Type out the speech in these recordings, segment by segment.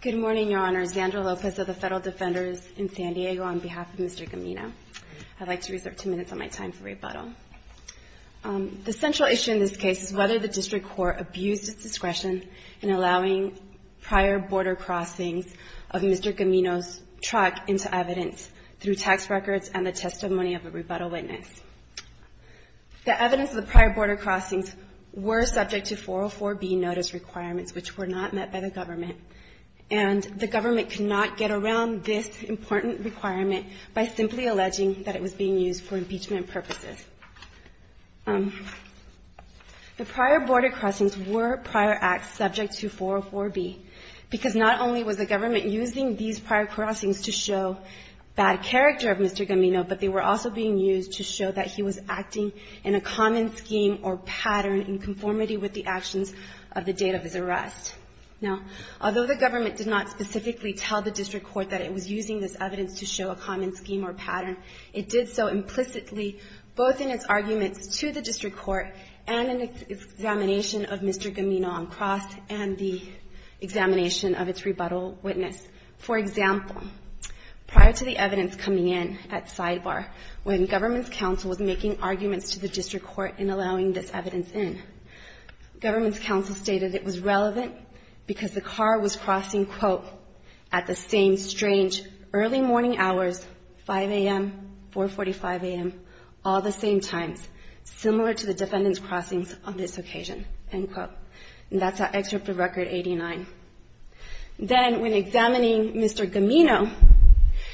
Good morning, Your Honor. Zandra Lopez of the Federal Defenders in San Diego on behalf of Mr. Gamino. I'd like to reserve two minutes of my time for rebuttal. The central issue in this case is whether the District Court abused its discretion in allowing prior border crossings of Mr. Gamino's truck into evidence through tax records and the testimony of a rebuttal witness. The evidence of the prior border crossings were subject to 404B notice requirements, which were not met by the government. And the government could not get around this important requirement by simply alleging that it was being used for impeachment purposes. The prior border crossings were prior acts subject to 404B because not only was the government using these prior crossings to show bad character of Mr. Gamino, but they were also being used to show that he was acting in a common scheme or pattern in conformity with the actions of the date of his arrest. Now, although the government did not specifically tell the District Court that it was using this evidence to show a common scheme or pattern, it did so implicitly, both in its arguments to the District Court and in its examination of Mr. Gamino on cross and the examination of its rebuttal witness. For example, prior to the evidence coming in at sidebar when government's counsel was making arguments to the District Court in allowing this evidence in, government's counsel stated it was relevant because the car was crossing, quote, at the same strange early morning hours, 5 a.m., 445 a.m., all the same times, similar to the defendant's crossings on this day, and that's an excerpt of Record 89. Then, when examining Mr. Gamino,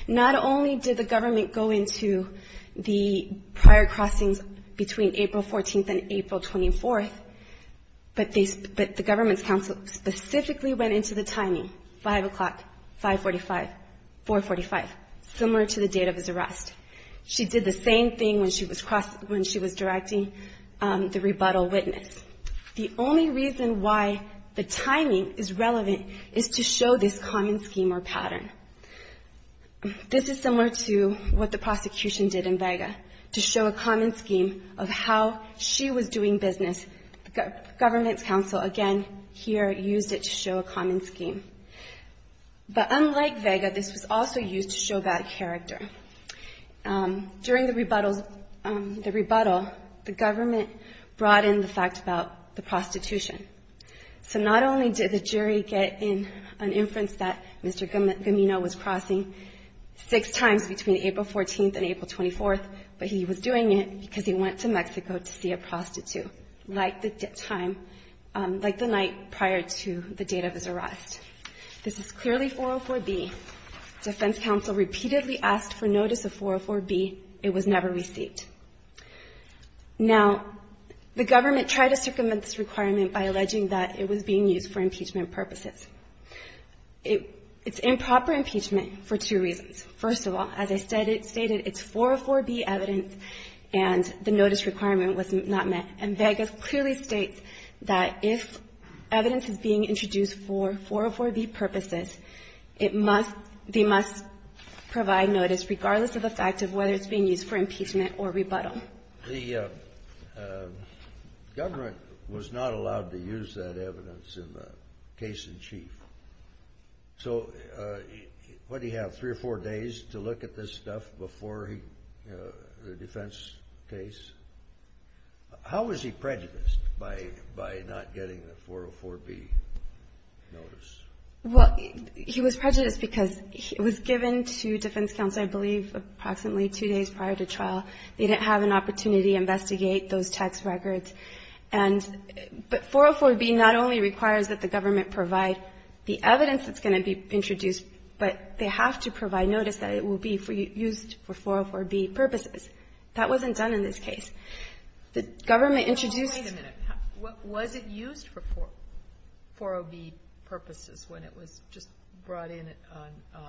not only did the government go into the prior crossings between April 14th and April 24th, but the government's counsel specifically went into the timing, 5 o'clock, 545, 445, similar to the date of his arrest. She did the same thing when she was directing the rebuttal witness. The only reason why the timing is relevant is to show this common scheme or pattern. This is similar to what the prosecution did in Vega, to show a common scheme of how she was doing business. Government's counsel, again, here, used it to show a common scheme. But unlike Vega, this was also used to show bad character. During the rebuttal, the government brought in the fact about the prostitution. So not only did the jury get in an inference that Mr. Gamino was crossing six times between April 14th and April 24th, but he was doing it because he went to Mexico to see a prostitute, like the time, like the night prior to the date of his arrest. This is clearly 404B. Defense counsel repeatedly asked for notice of 404B. It was never received. Now, the government tried to circumvent this requirement by alleging that it was being used for impeachment purposes. It's improper impeachment for two reasons. First of all, as I stated, it's 404B evidence, and the notice requirement was not met. And Vega clearly states that if evidence is being introduced for 404B purposes, they must provide notice, regardless of the fact of whether it's being used for impeachment or rebuttal. The government was not allowed to use that evidence in the case in chief. So what, did he have three or four days to look at this stuff before the defense case? How was he prejudiced by not getting the 404B notice? Well, he was prejudiced because it was given to defense counsel, I believe, approximately two days prior to trial. They didn't have an opportunity to investigate those text records. And but 404B not only requires that the government provide the evidence that's going to be introduced, but they have to provide notice that it will be used for 404B purposes. That wasn't done in this case. The government introduced Wait a minute. Was it used for 404B purposes when it was just brought in on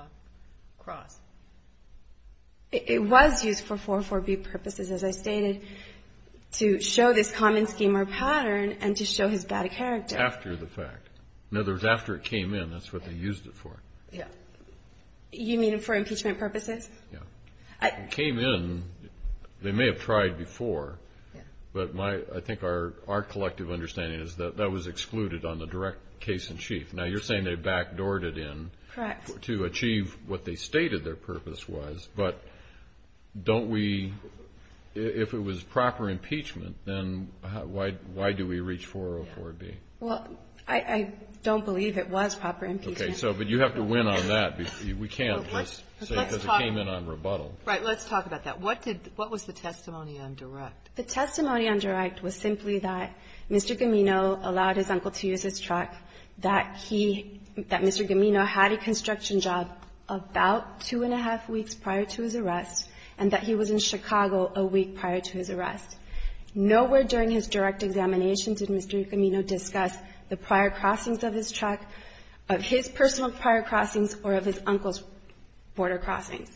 Cross? It was used for 404B purposes, as I stated, to show this common scheme or pattern and to show his bad character. After the fact. In other words, after it came in, that's what they used it for. You mean for impeachment purposes? It came in. They may have tried before. But I think our collective understanding is that that was excluded on the direct case in chief. Now, you're saying they backdoored it in to achieve what they stated their purpose was. But don't we, if it was proper impeachment, then why do we reach 404B? Well, I don't believe it was proper impeachment. Okay. So but you have to win on that. We can't just say because it came in on rebuttal. Right. Let's talk about that. What did what was the testimony on direct? The testimony on direct was simply that Mr. Gamino allowed his uncle to use his truck, that he, that Mr. Gamino had a construction job about two and a half weeks prior to his arrest, and that he was in Chicago a week prior to his arrest. Nowhere during his direct examination did Mr. Gamino discuss the prior crossings of his truck, of his personal prior crossings, or of his uncle's border crossings.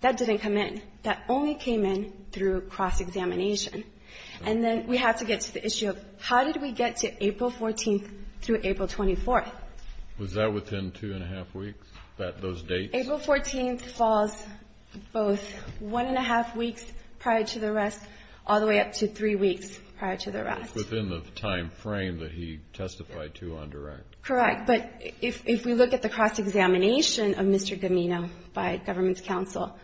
That didn't come in. That only came in through cross-examination. And then we have to get to the issue of how did we get to April 14th through April 24th? Was that within two and a half weeks, that those dates? April 14th falls both one and a half weeks prior to the arrest, all the way up to three weeks prior to the arrest. It's within the timeframe that he testified to on direct. Correct. But if we look at the cross-examination of Mr. Gamino by government's counsel,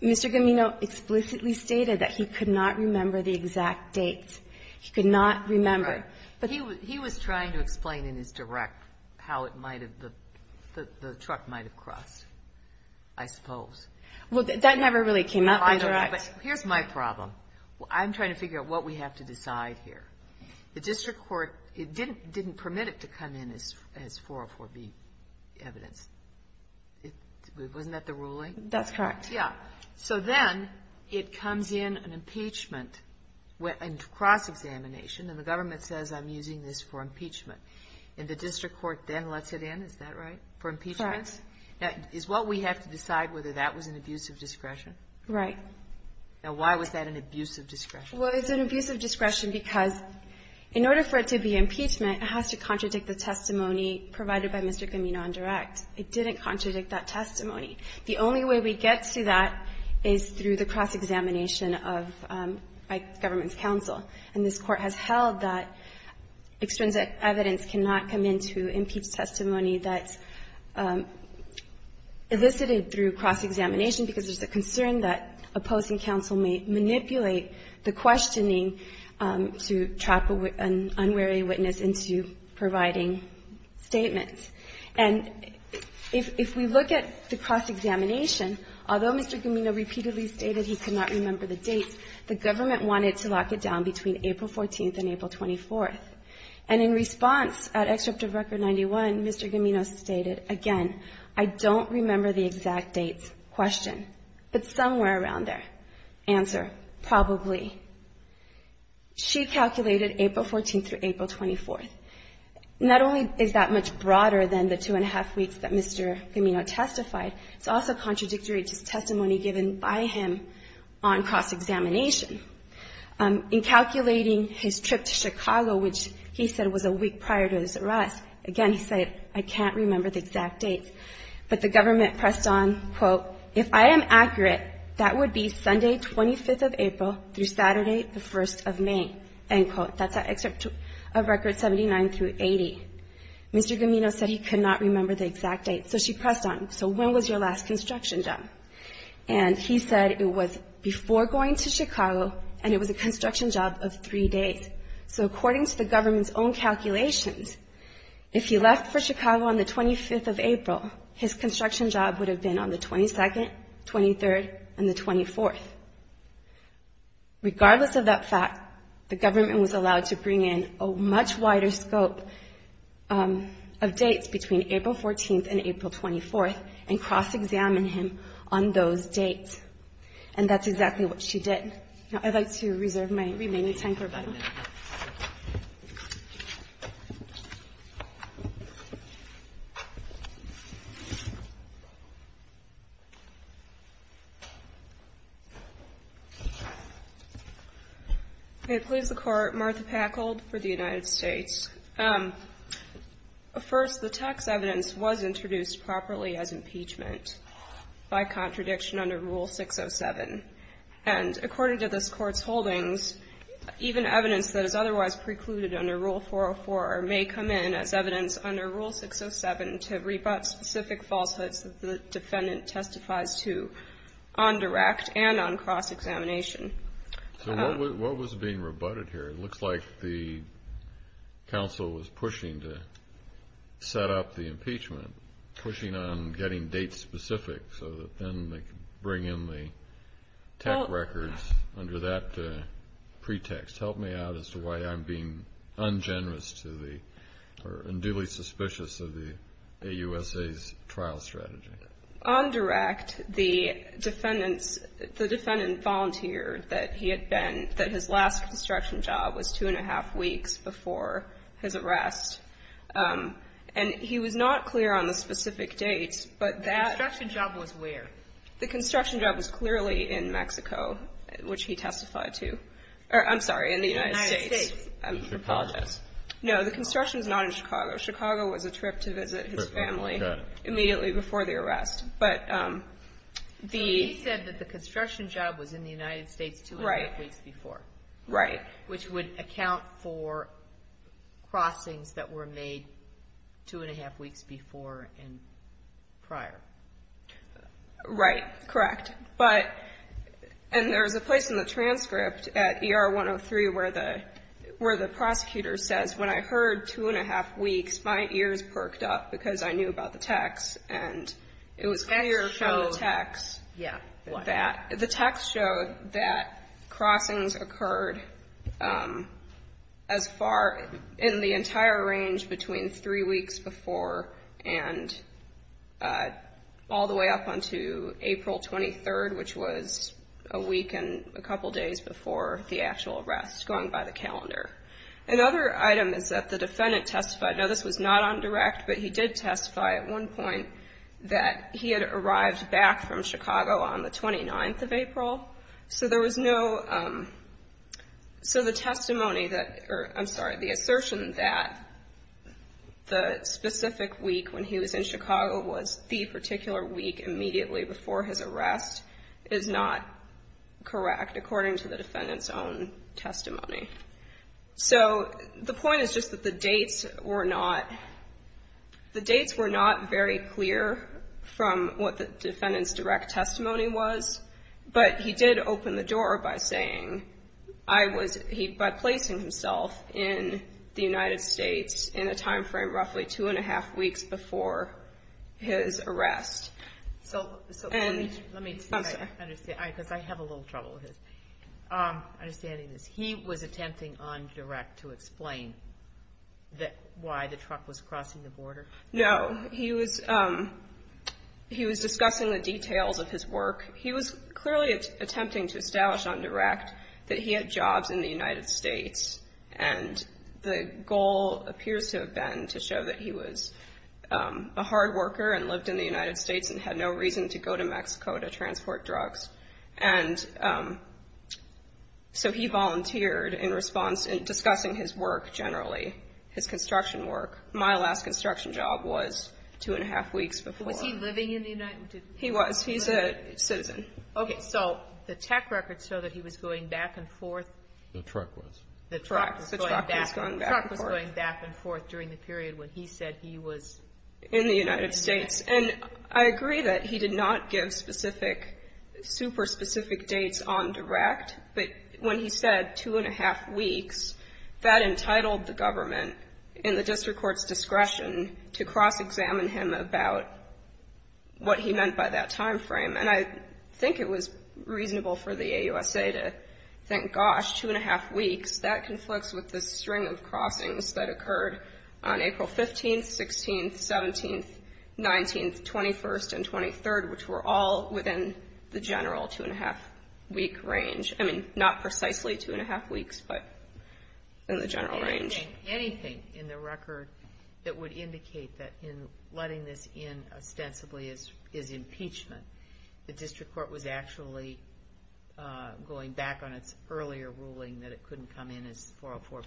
Mr. Gamino explicitly stated that he could not remember the exact date. He could not remember. He was trying to explain in his direct how it might have, the truck might have crossed. I suppose. Well, that never really came up in direct. Here's my problem. I'm trying to figure out what we have to decide here. The district court didn't permit it to come in as 404B evidence. Wasn't that the ruling? That's correct. Yeah. So then it comes in an impeachment, a cross-examination, and the government says, I'm using this for impeachment. And the district court then lets it in, is that right, for impeachment? That's correct. Now, is what we have to decide whether that was an abuse of discretion? Right. Now, why was that an abuse of discretion? Well, it's an abuse of discretion because in order for it to be impeachment, it has to contradict the testimony provided by Mr. Gamino on direct. It didn't contradict that testimony. The only way we get to that is through the cross-examination of government's counsel. And this Court has held that extrinsic evidence cannot come into impeached testimony that's elicited through cross-examination because there's a concern that opposing counsel may manipulate the questioning to trap an unwary witness into providing statements. And if we look at the cross-examination, although Mr. Gamino repeatedly stated he could not remember the dates, the government wanted to lock it down between April 14th and April 24th. And in response at Excerpt of Record 91, Mr. Gamino stated, again, I don't remember the exact dates question, but somewhere around there, answer, probably. She calculated April 14th through April 24th. Not only is that much broader than the two and a half weeks that Mr. Gamino testified, it's also contradictory to testimony given by him on cross-examination. In calculating his trip to Chicago, which he said was a week prior to his arrest, again, he said, I can't remember the exact dates. But the government pressed on, quote, if I am accurate, that would be Sunday 25th of April through Saturday the 1st of May, end quote. That's at Excerpt of Record 79 through 80. Mr. Gamino said he could not remember the exact dates, so she pressed on. So when was your last construction done? And he said it was before going to Chicago, and it was a construction job of three days. So according to the government's own calculations, if he left for Chicago on the 25th of April, his construction job would have been on the 22nd, 23rd, and the 24th. Regardless of that fact, the government was allowed to bring in a much wider scope of dates between April 14th and April 24th and cross-examine him on those dates. And that's exactly what she did. Now, I'd like to reserve my remaining time for about a minute. Okay. Please, the Court. Martha Packold for the United States. First, the text evidence was introduced properly as impeachment by contradiction under Rule 607. And according to this Court's holdings, even evidence that is otherwise precluded under Rule 404 may come in as evidence under Rule 607 to rebut specific falsehoods that the defendant testifies to on direct and on cross-examination. So what was being rebutted here? It looks like the counsel was pushing to set up the impeachment, pushing on getting dates specific so that then they could bring in the tech records under that pretext. Help me out as to why I'm being ungenerous to the, or unduly suspicious of the AUSA's trial strategy. On direct, the defendant volunteered that he had been, that his last construction job was two and a half weeks before his arrest. And he was not clear on the specific dates, but that. The construction job was where? The construction job was clearly in Mexico, which he testified to. Or, I'm sorry, in the United States. I apologize. No, the construction was not in Chicago. Chicago was a trip to visit his family immediately before the arrest. But the. So he said that the construction job was in the United States two and a half weeks before. Right. Which would account for crossings that were made two and a half weeks before and prior. Right. Correct. But, and there was a place in the transcript at ER 103 where the, where the prosecutor says, when I heard two and a half weeks, my ears perked up because I knew about the text and it was clear from the text that the text showed that crossings occurred as far, in the entire range between three weeks before and all the way up until April 23rd, which was a week and a couple days before the actual arrest, going by the calendar. Another item is that the defendant testified, now this was not on direct, but he did testify at one point that he had arrived back from Chicago on the 29th of April. So, so the testimony that, or I'm sorry, the assertion that the specific week when he was in Chicago was the particular week immediately before his arrest is not correct according to the defendant's own testimony. So the point is just that the dates were not, the dates were not very clear from what the defendant's direct testimony was, but he did open the door by saying, I was, he, by placing himself in the United States in a timeframe roughly two and a half weeks before his arrest. So, so let me, let me, I'm sorry. All right, because I have a little trouble with this. Understanding this, he was attempting on direct to explain that, why the truck was crossing the border? No, he was, he was discussing the details of his work. He was clearly attempting to establish on direct that he had jobs in the United States, and the goal appears to have been to show that he was a hard worker and lived in the United States and had no reason to go to Mexico to transport drugs. And so he volunteered in response, discussing his work generally, his construction work. My last construction job was two and a half weeks before. Was he living in the United States? He was. He's a citizen. Okay. So the tech records show that he was going back and forth. The truck was. The truck was going back and forth. The truck was going back and forth during the period when he said he was in the United States. And I agree that he did not give specific, super specific dates on direct, but when he said two and a half weeks, that entitled the government in the district court's discretion to cross-examine him about what he meant by that time frame. And I think it was reasonable for the AUSA to think, gosh, two and a half weeks, that conflicts with the string of crossings that occurred on April 15th, 16th, 17th, 19th, 21st, and 23rd, which were all within the general two and a half week range. I mean, not precisely two and a half weeks, but in the general range. Anything in the record that would indicate that in letting this in ostensibly as impeachment, the district court was actually going back on its earlier ruling that it couldn't come in as 404B?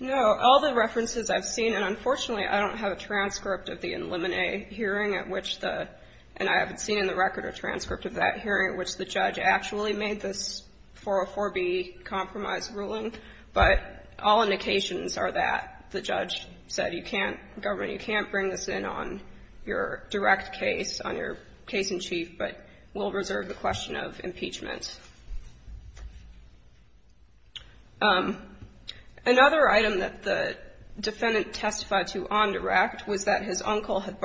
No. All the references I've seen, and unfortunately I don't have a transcript of the eliminate hearing at which the, and I haven't seen in the record or transcript of that hearing at which the judge actually made this 404B compromise ruling. But all indications are that the judge said you can't, government, you can't bring this in on your direct case, on your case in chief, but we'll reserve the question of impeachment. Another item that the defendant testified to on direct was that his uncle had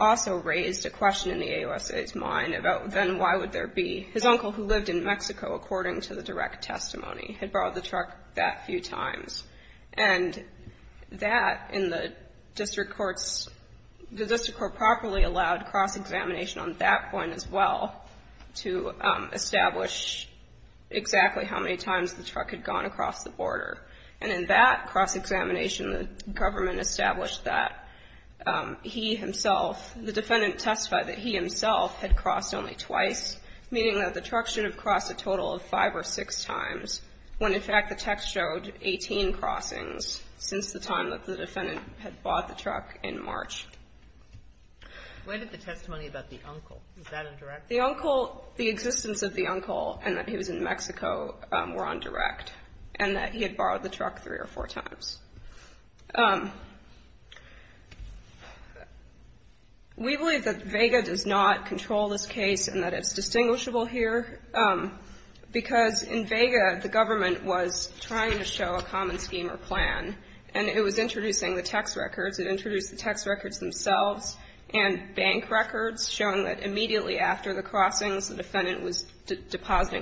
also raised a question in the AOSA's mind about then why would there be, his uncle who lived in Mexico, according to the direct testimony, had borrowed the truck that few times. And that in the district courts, the district court properly allowed cross-examination on that point as well to establish exactly how many times the truck had gone across the border. And in that cross-examination, the government established that he himself, the defendant testified that he himself had crossed only twice, meaning that the truck should have crossed a total of five or six times when, in fact, the text showed 18 crossings since the time that the defendant had bought the truck in March. Why did the testimony about the uncle? Is that indirect? The uncle, the existence of the uncle and that he was in Mexico were on direct, and that he had borrowed the truck three or four times. We believe that VEGA does not control this case and that it's distinguishable here, because in VEGA, the government was trying to show a common scheme or plan, and it was introducing the text records. It introduced the text records themselves and bank records showing that immediately after the crossings, the truck should have crossed.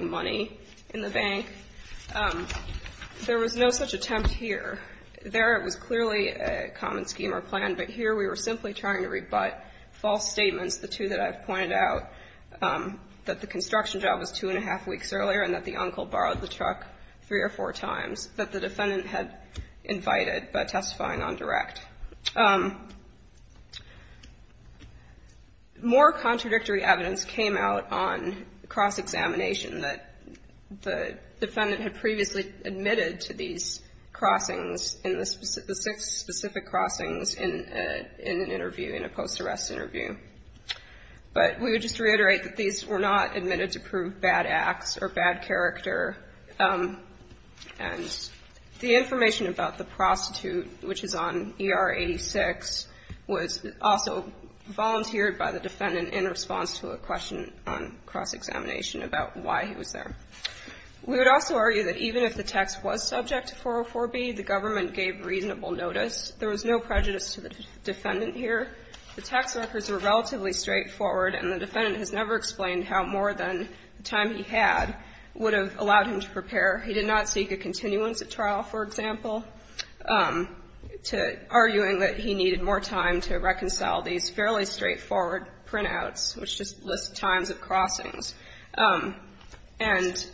There was no such attempt here. There it was clearly a common scheme or plan, but here we were simply trying to rebut false statements, the two that I've pointed out, that the construction job was two and a half weeks earlier and that the uncle borrowed the truck three or four times that the defendant had invited by testifying on direct. More contradictory evidence came out on cross-examination that the defendant had previously admitted to these crossings in the six specific crossings in an interview, in a post-arrest interview. But we would just reiterate that these were not admitted to prove bad acts or bad character. And the information about the prostitute, which is on ER 86, was also volunteered by the defendant in response to a question on cross-examination about why he was there. We would also argue that even if the text was subject to 404B, the government gave reasonable notice. There was no prejudice to the defendant here. The text records were relatively straightforward, and the defendant has never explained how more than the time he had would have allowed him to prepare. He did not seek a continuance of trial, for example, arguing that he needed more evidence. And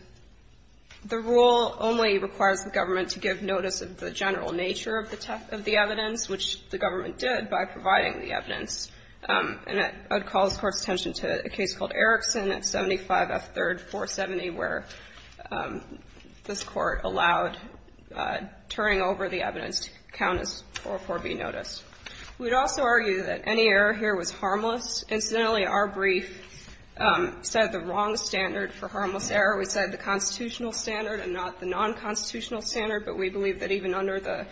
the rule only requires the government to give notice of the general nature of the text of the evidence, which the government did by providing the evidence. And I would call this Court's attention to a case called Erickson at 75F3-470, where this Court allowed turning over the evidence to count as 404B notice. We would also argue that any error here was harmless. Incidentally, our brief said the wrong standard for harmless error. We said the constitutional standard and not the nonconstitutional standard, but we believe that even under the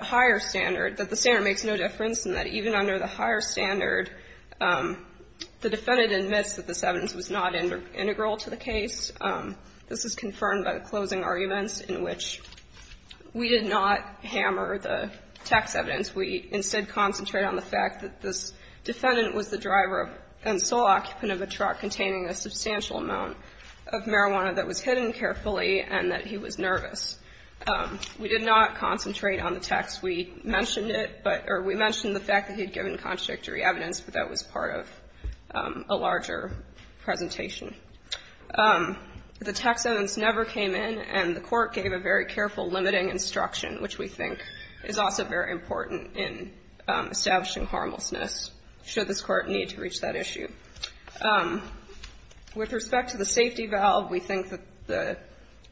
higher standard, that the standard makes no difference and that even under the higher standard, the defendant admits that this evidence was not integral to the case. This is confirmed by the closing arguments in which we did not hammer the text evidence. We instead concentrate on the fact that this defendant was the driver and sole occupant of a truck containing a substantial amount of marijuana that was hidden carefully and that he was nervous. We did not concentrate on the text. We mentioned it, or we mentioned the fact that he had given contradictory evidence, but that was part of a larger presentation. The text evidence never came in, and the Court gave a very careful limiting instruction, which we think is also very important in establishing harmlessness should this Court need to reach that issue. With respect to the safety valve, we think that the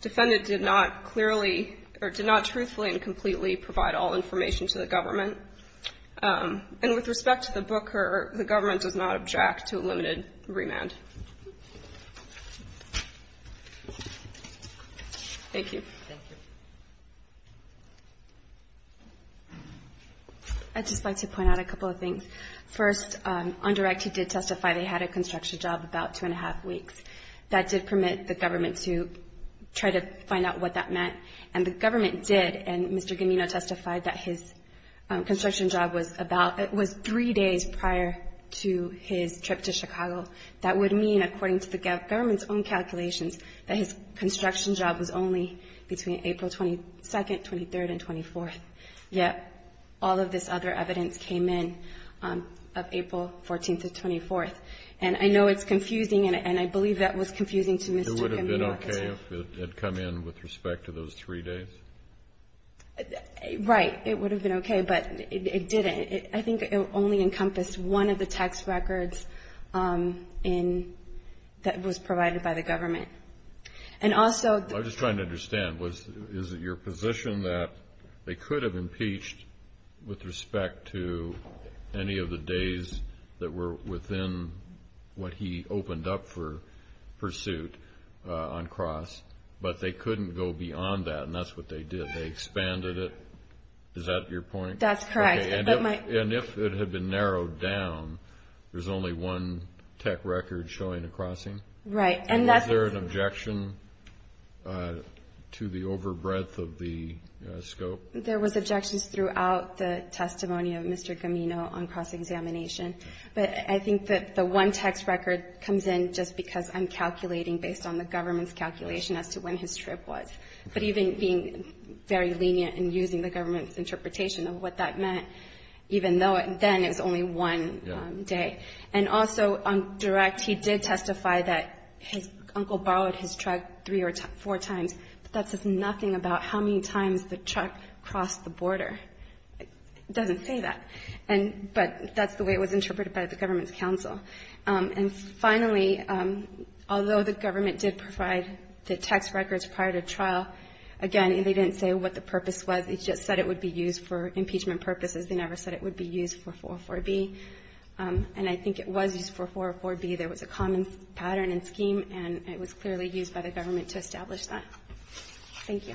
defendant did not clearly or did not truthfully and completely provide all information to the government. And with respect to the booker, the government does not object to a limited remand. Thank you. Thank you. I'd just like to point out a couple of things. First, on direct he did testify they had a construction job about two and a half weeks. That did permit the government to try to find out what that meant. And the government did, and Mr. Gamino testified that his construction job was about, it was three days prior to his trip to Chicago. That would mean, according to the government's own calculations, that his construction job was only between April 22nd, 23rd, and 24th. Yet all of this other evidence came in of April 14th to 24th. And I know it's confusing, and I believe that was confusing to Mr. Gamino. It would have been okay if it had come in with respect to those three days? Right. It would have been okay, but it didn't. I think it only encompassed one of the three days. I was just trying to understand, is it your position that they could have impeached with respect to any of the days that were within what he opened up for pursuit on cross, but they couldn't go beyond that, and that's what they did. They expanded it. Is that your point? That's correct. And if it had been narrowed down, there's only one tech record showing a crossing? Right. Was there an objection to the overbreadth of the scope? There was objections throughout the testimony of Mr. Gamino on cross-examination, but I think that the one text record comes in just because I'm calculating based on the government's calculation as to when his trip was. But even being very lenient in using the government's information, even though then it was only one day. And also on direct, he did testify that his uncle borrowed his truck three or four times, but that says nothing about how many times the truck crossed the border. It doesn't say that. But that's the way it was interpreted by the government's counsel. And finally, although the government did provide the text records prior to trial, again, they didn't say what the purpose was. They just said it would be used for impeachment purposes. They never said it would be used for 404B. And I think it was used for 404B. There was a common pattern and scheme, and it was clearly used by the government to establish that. Thank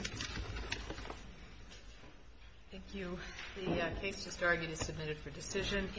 you.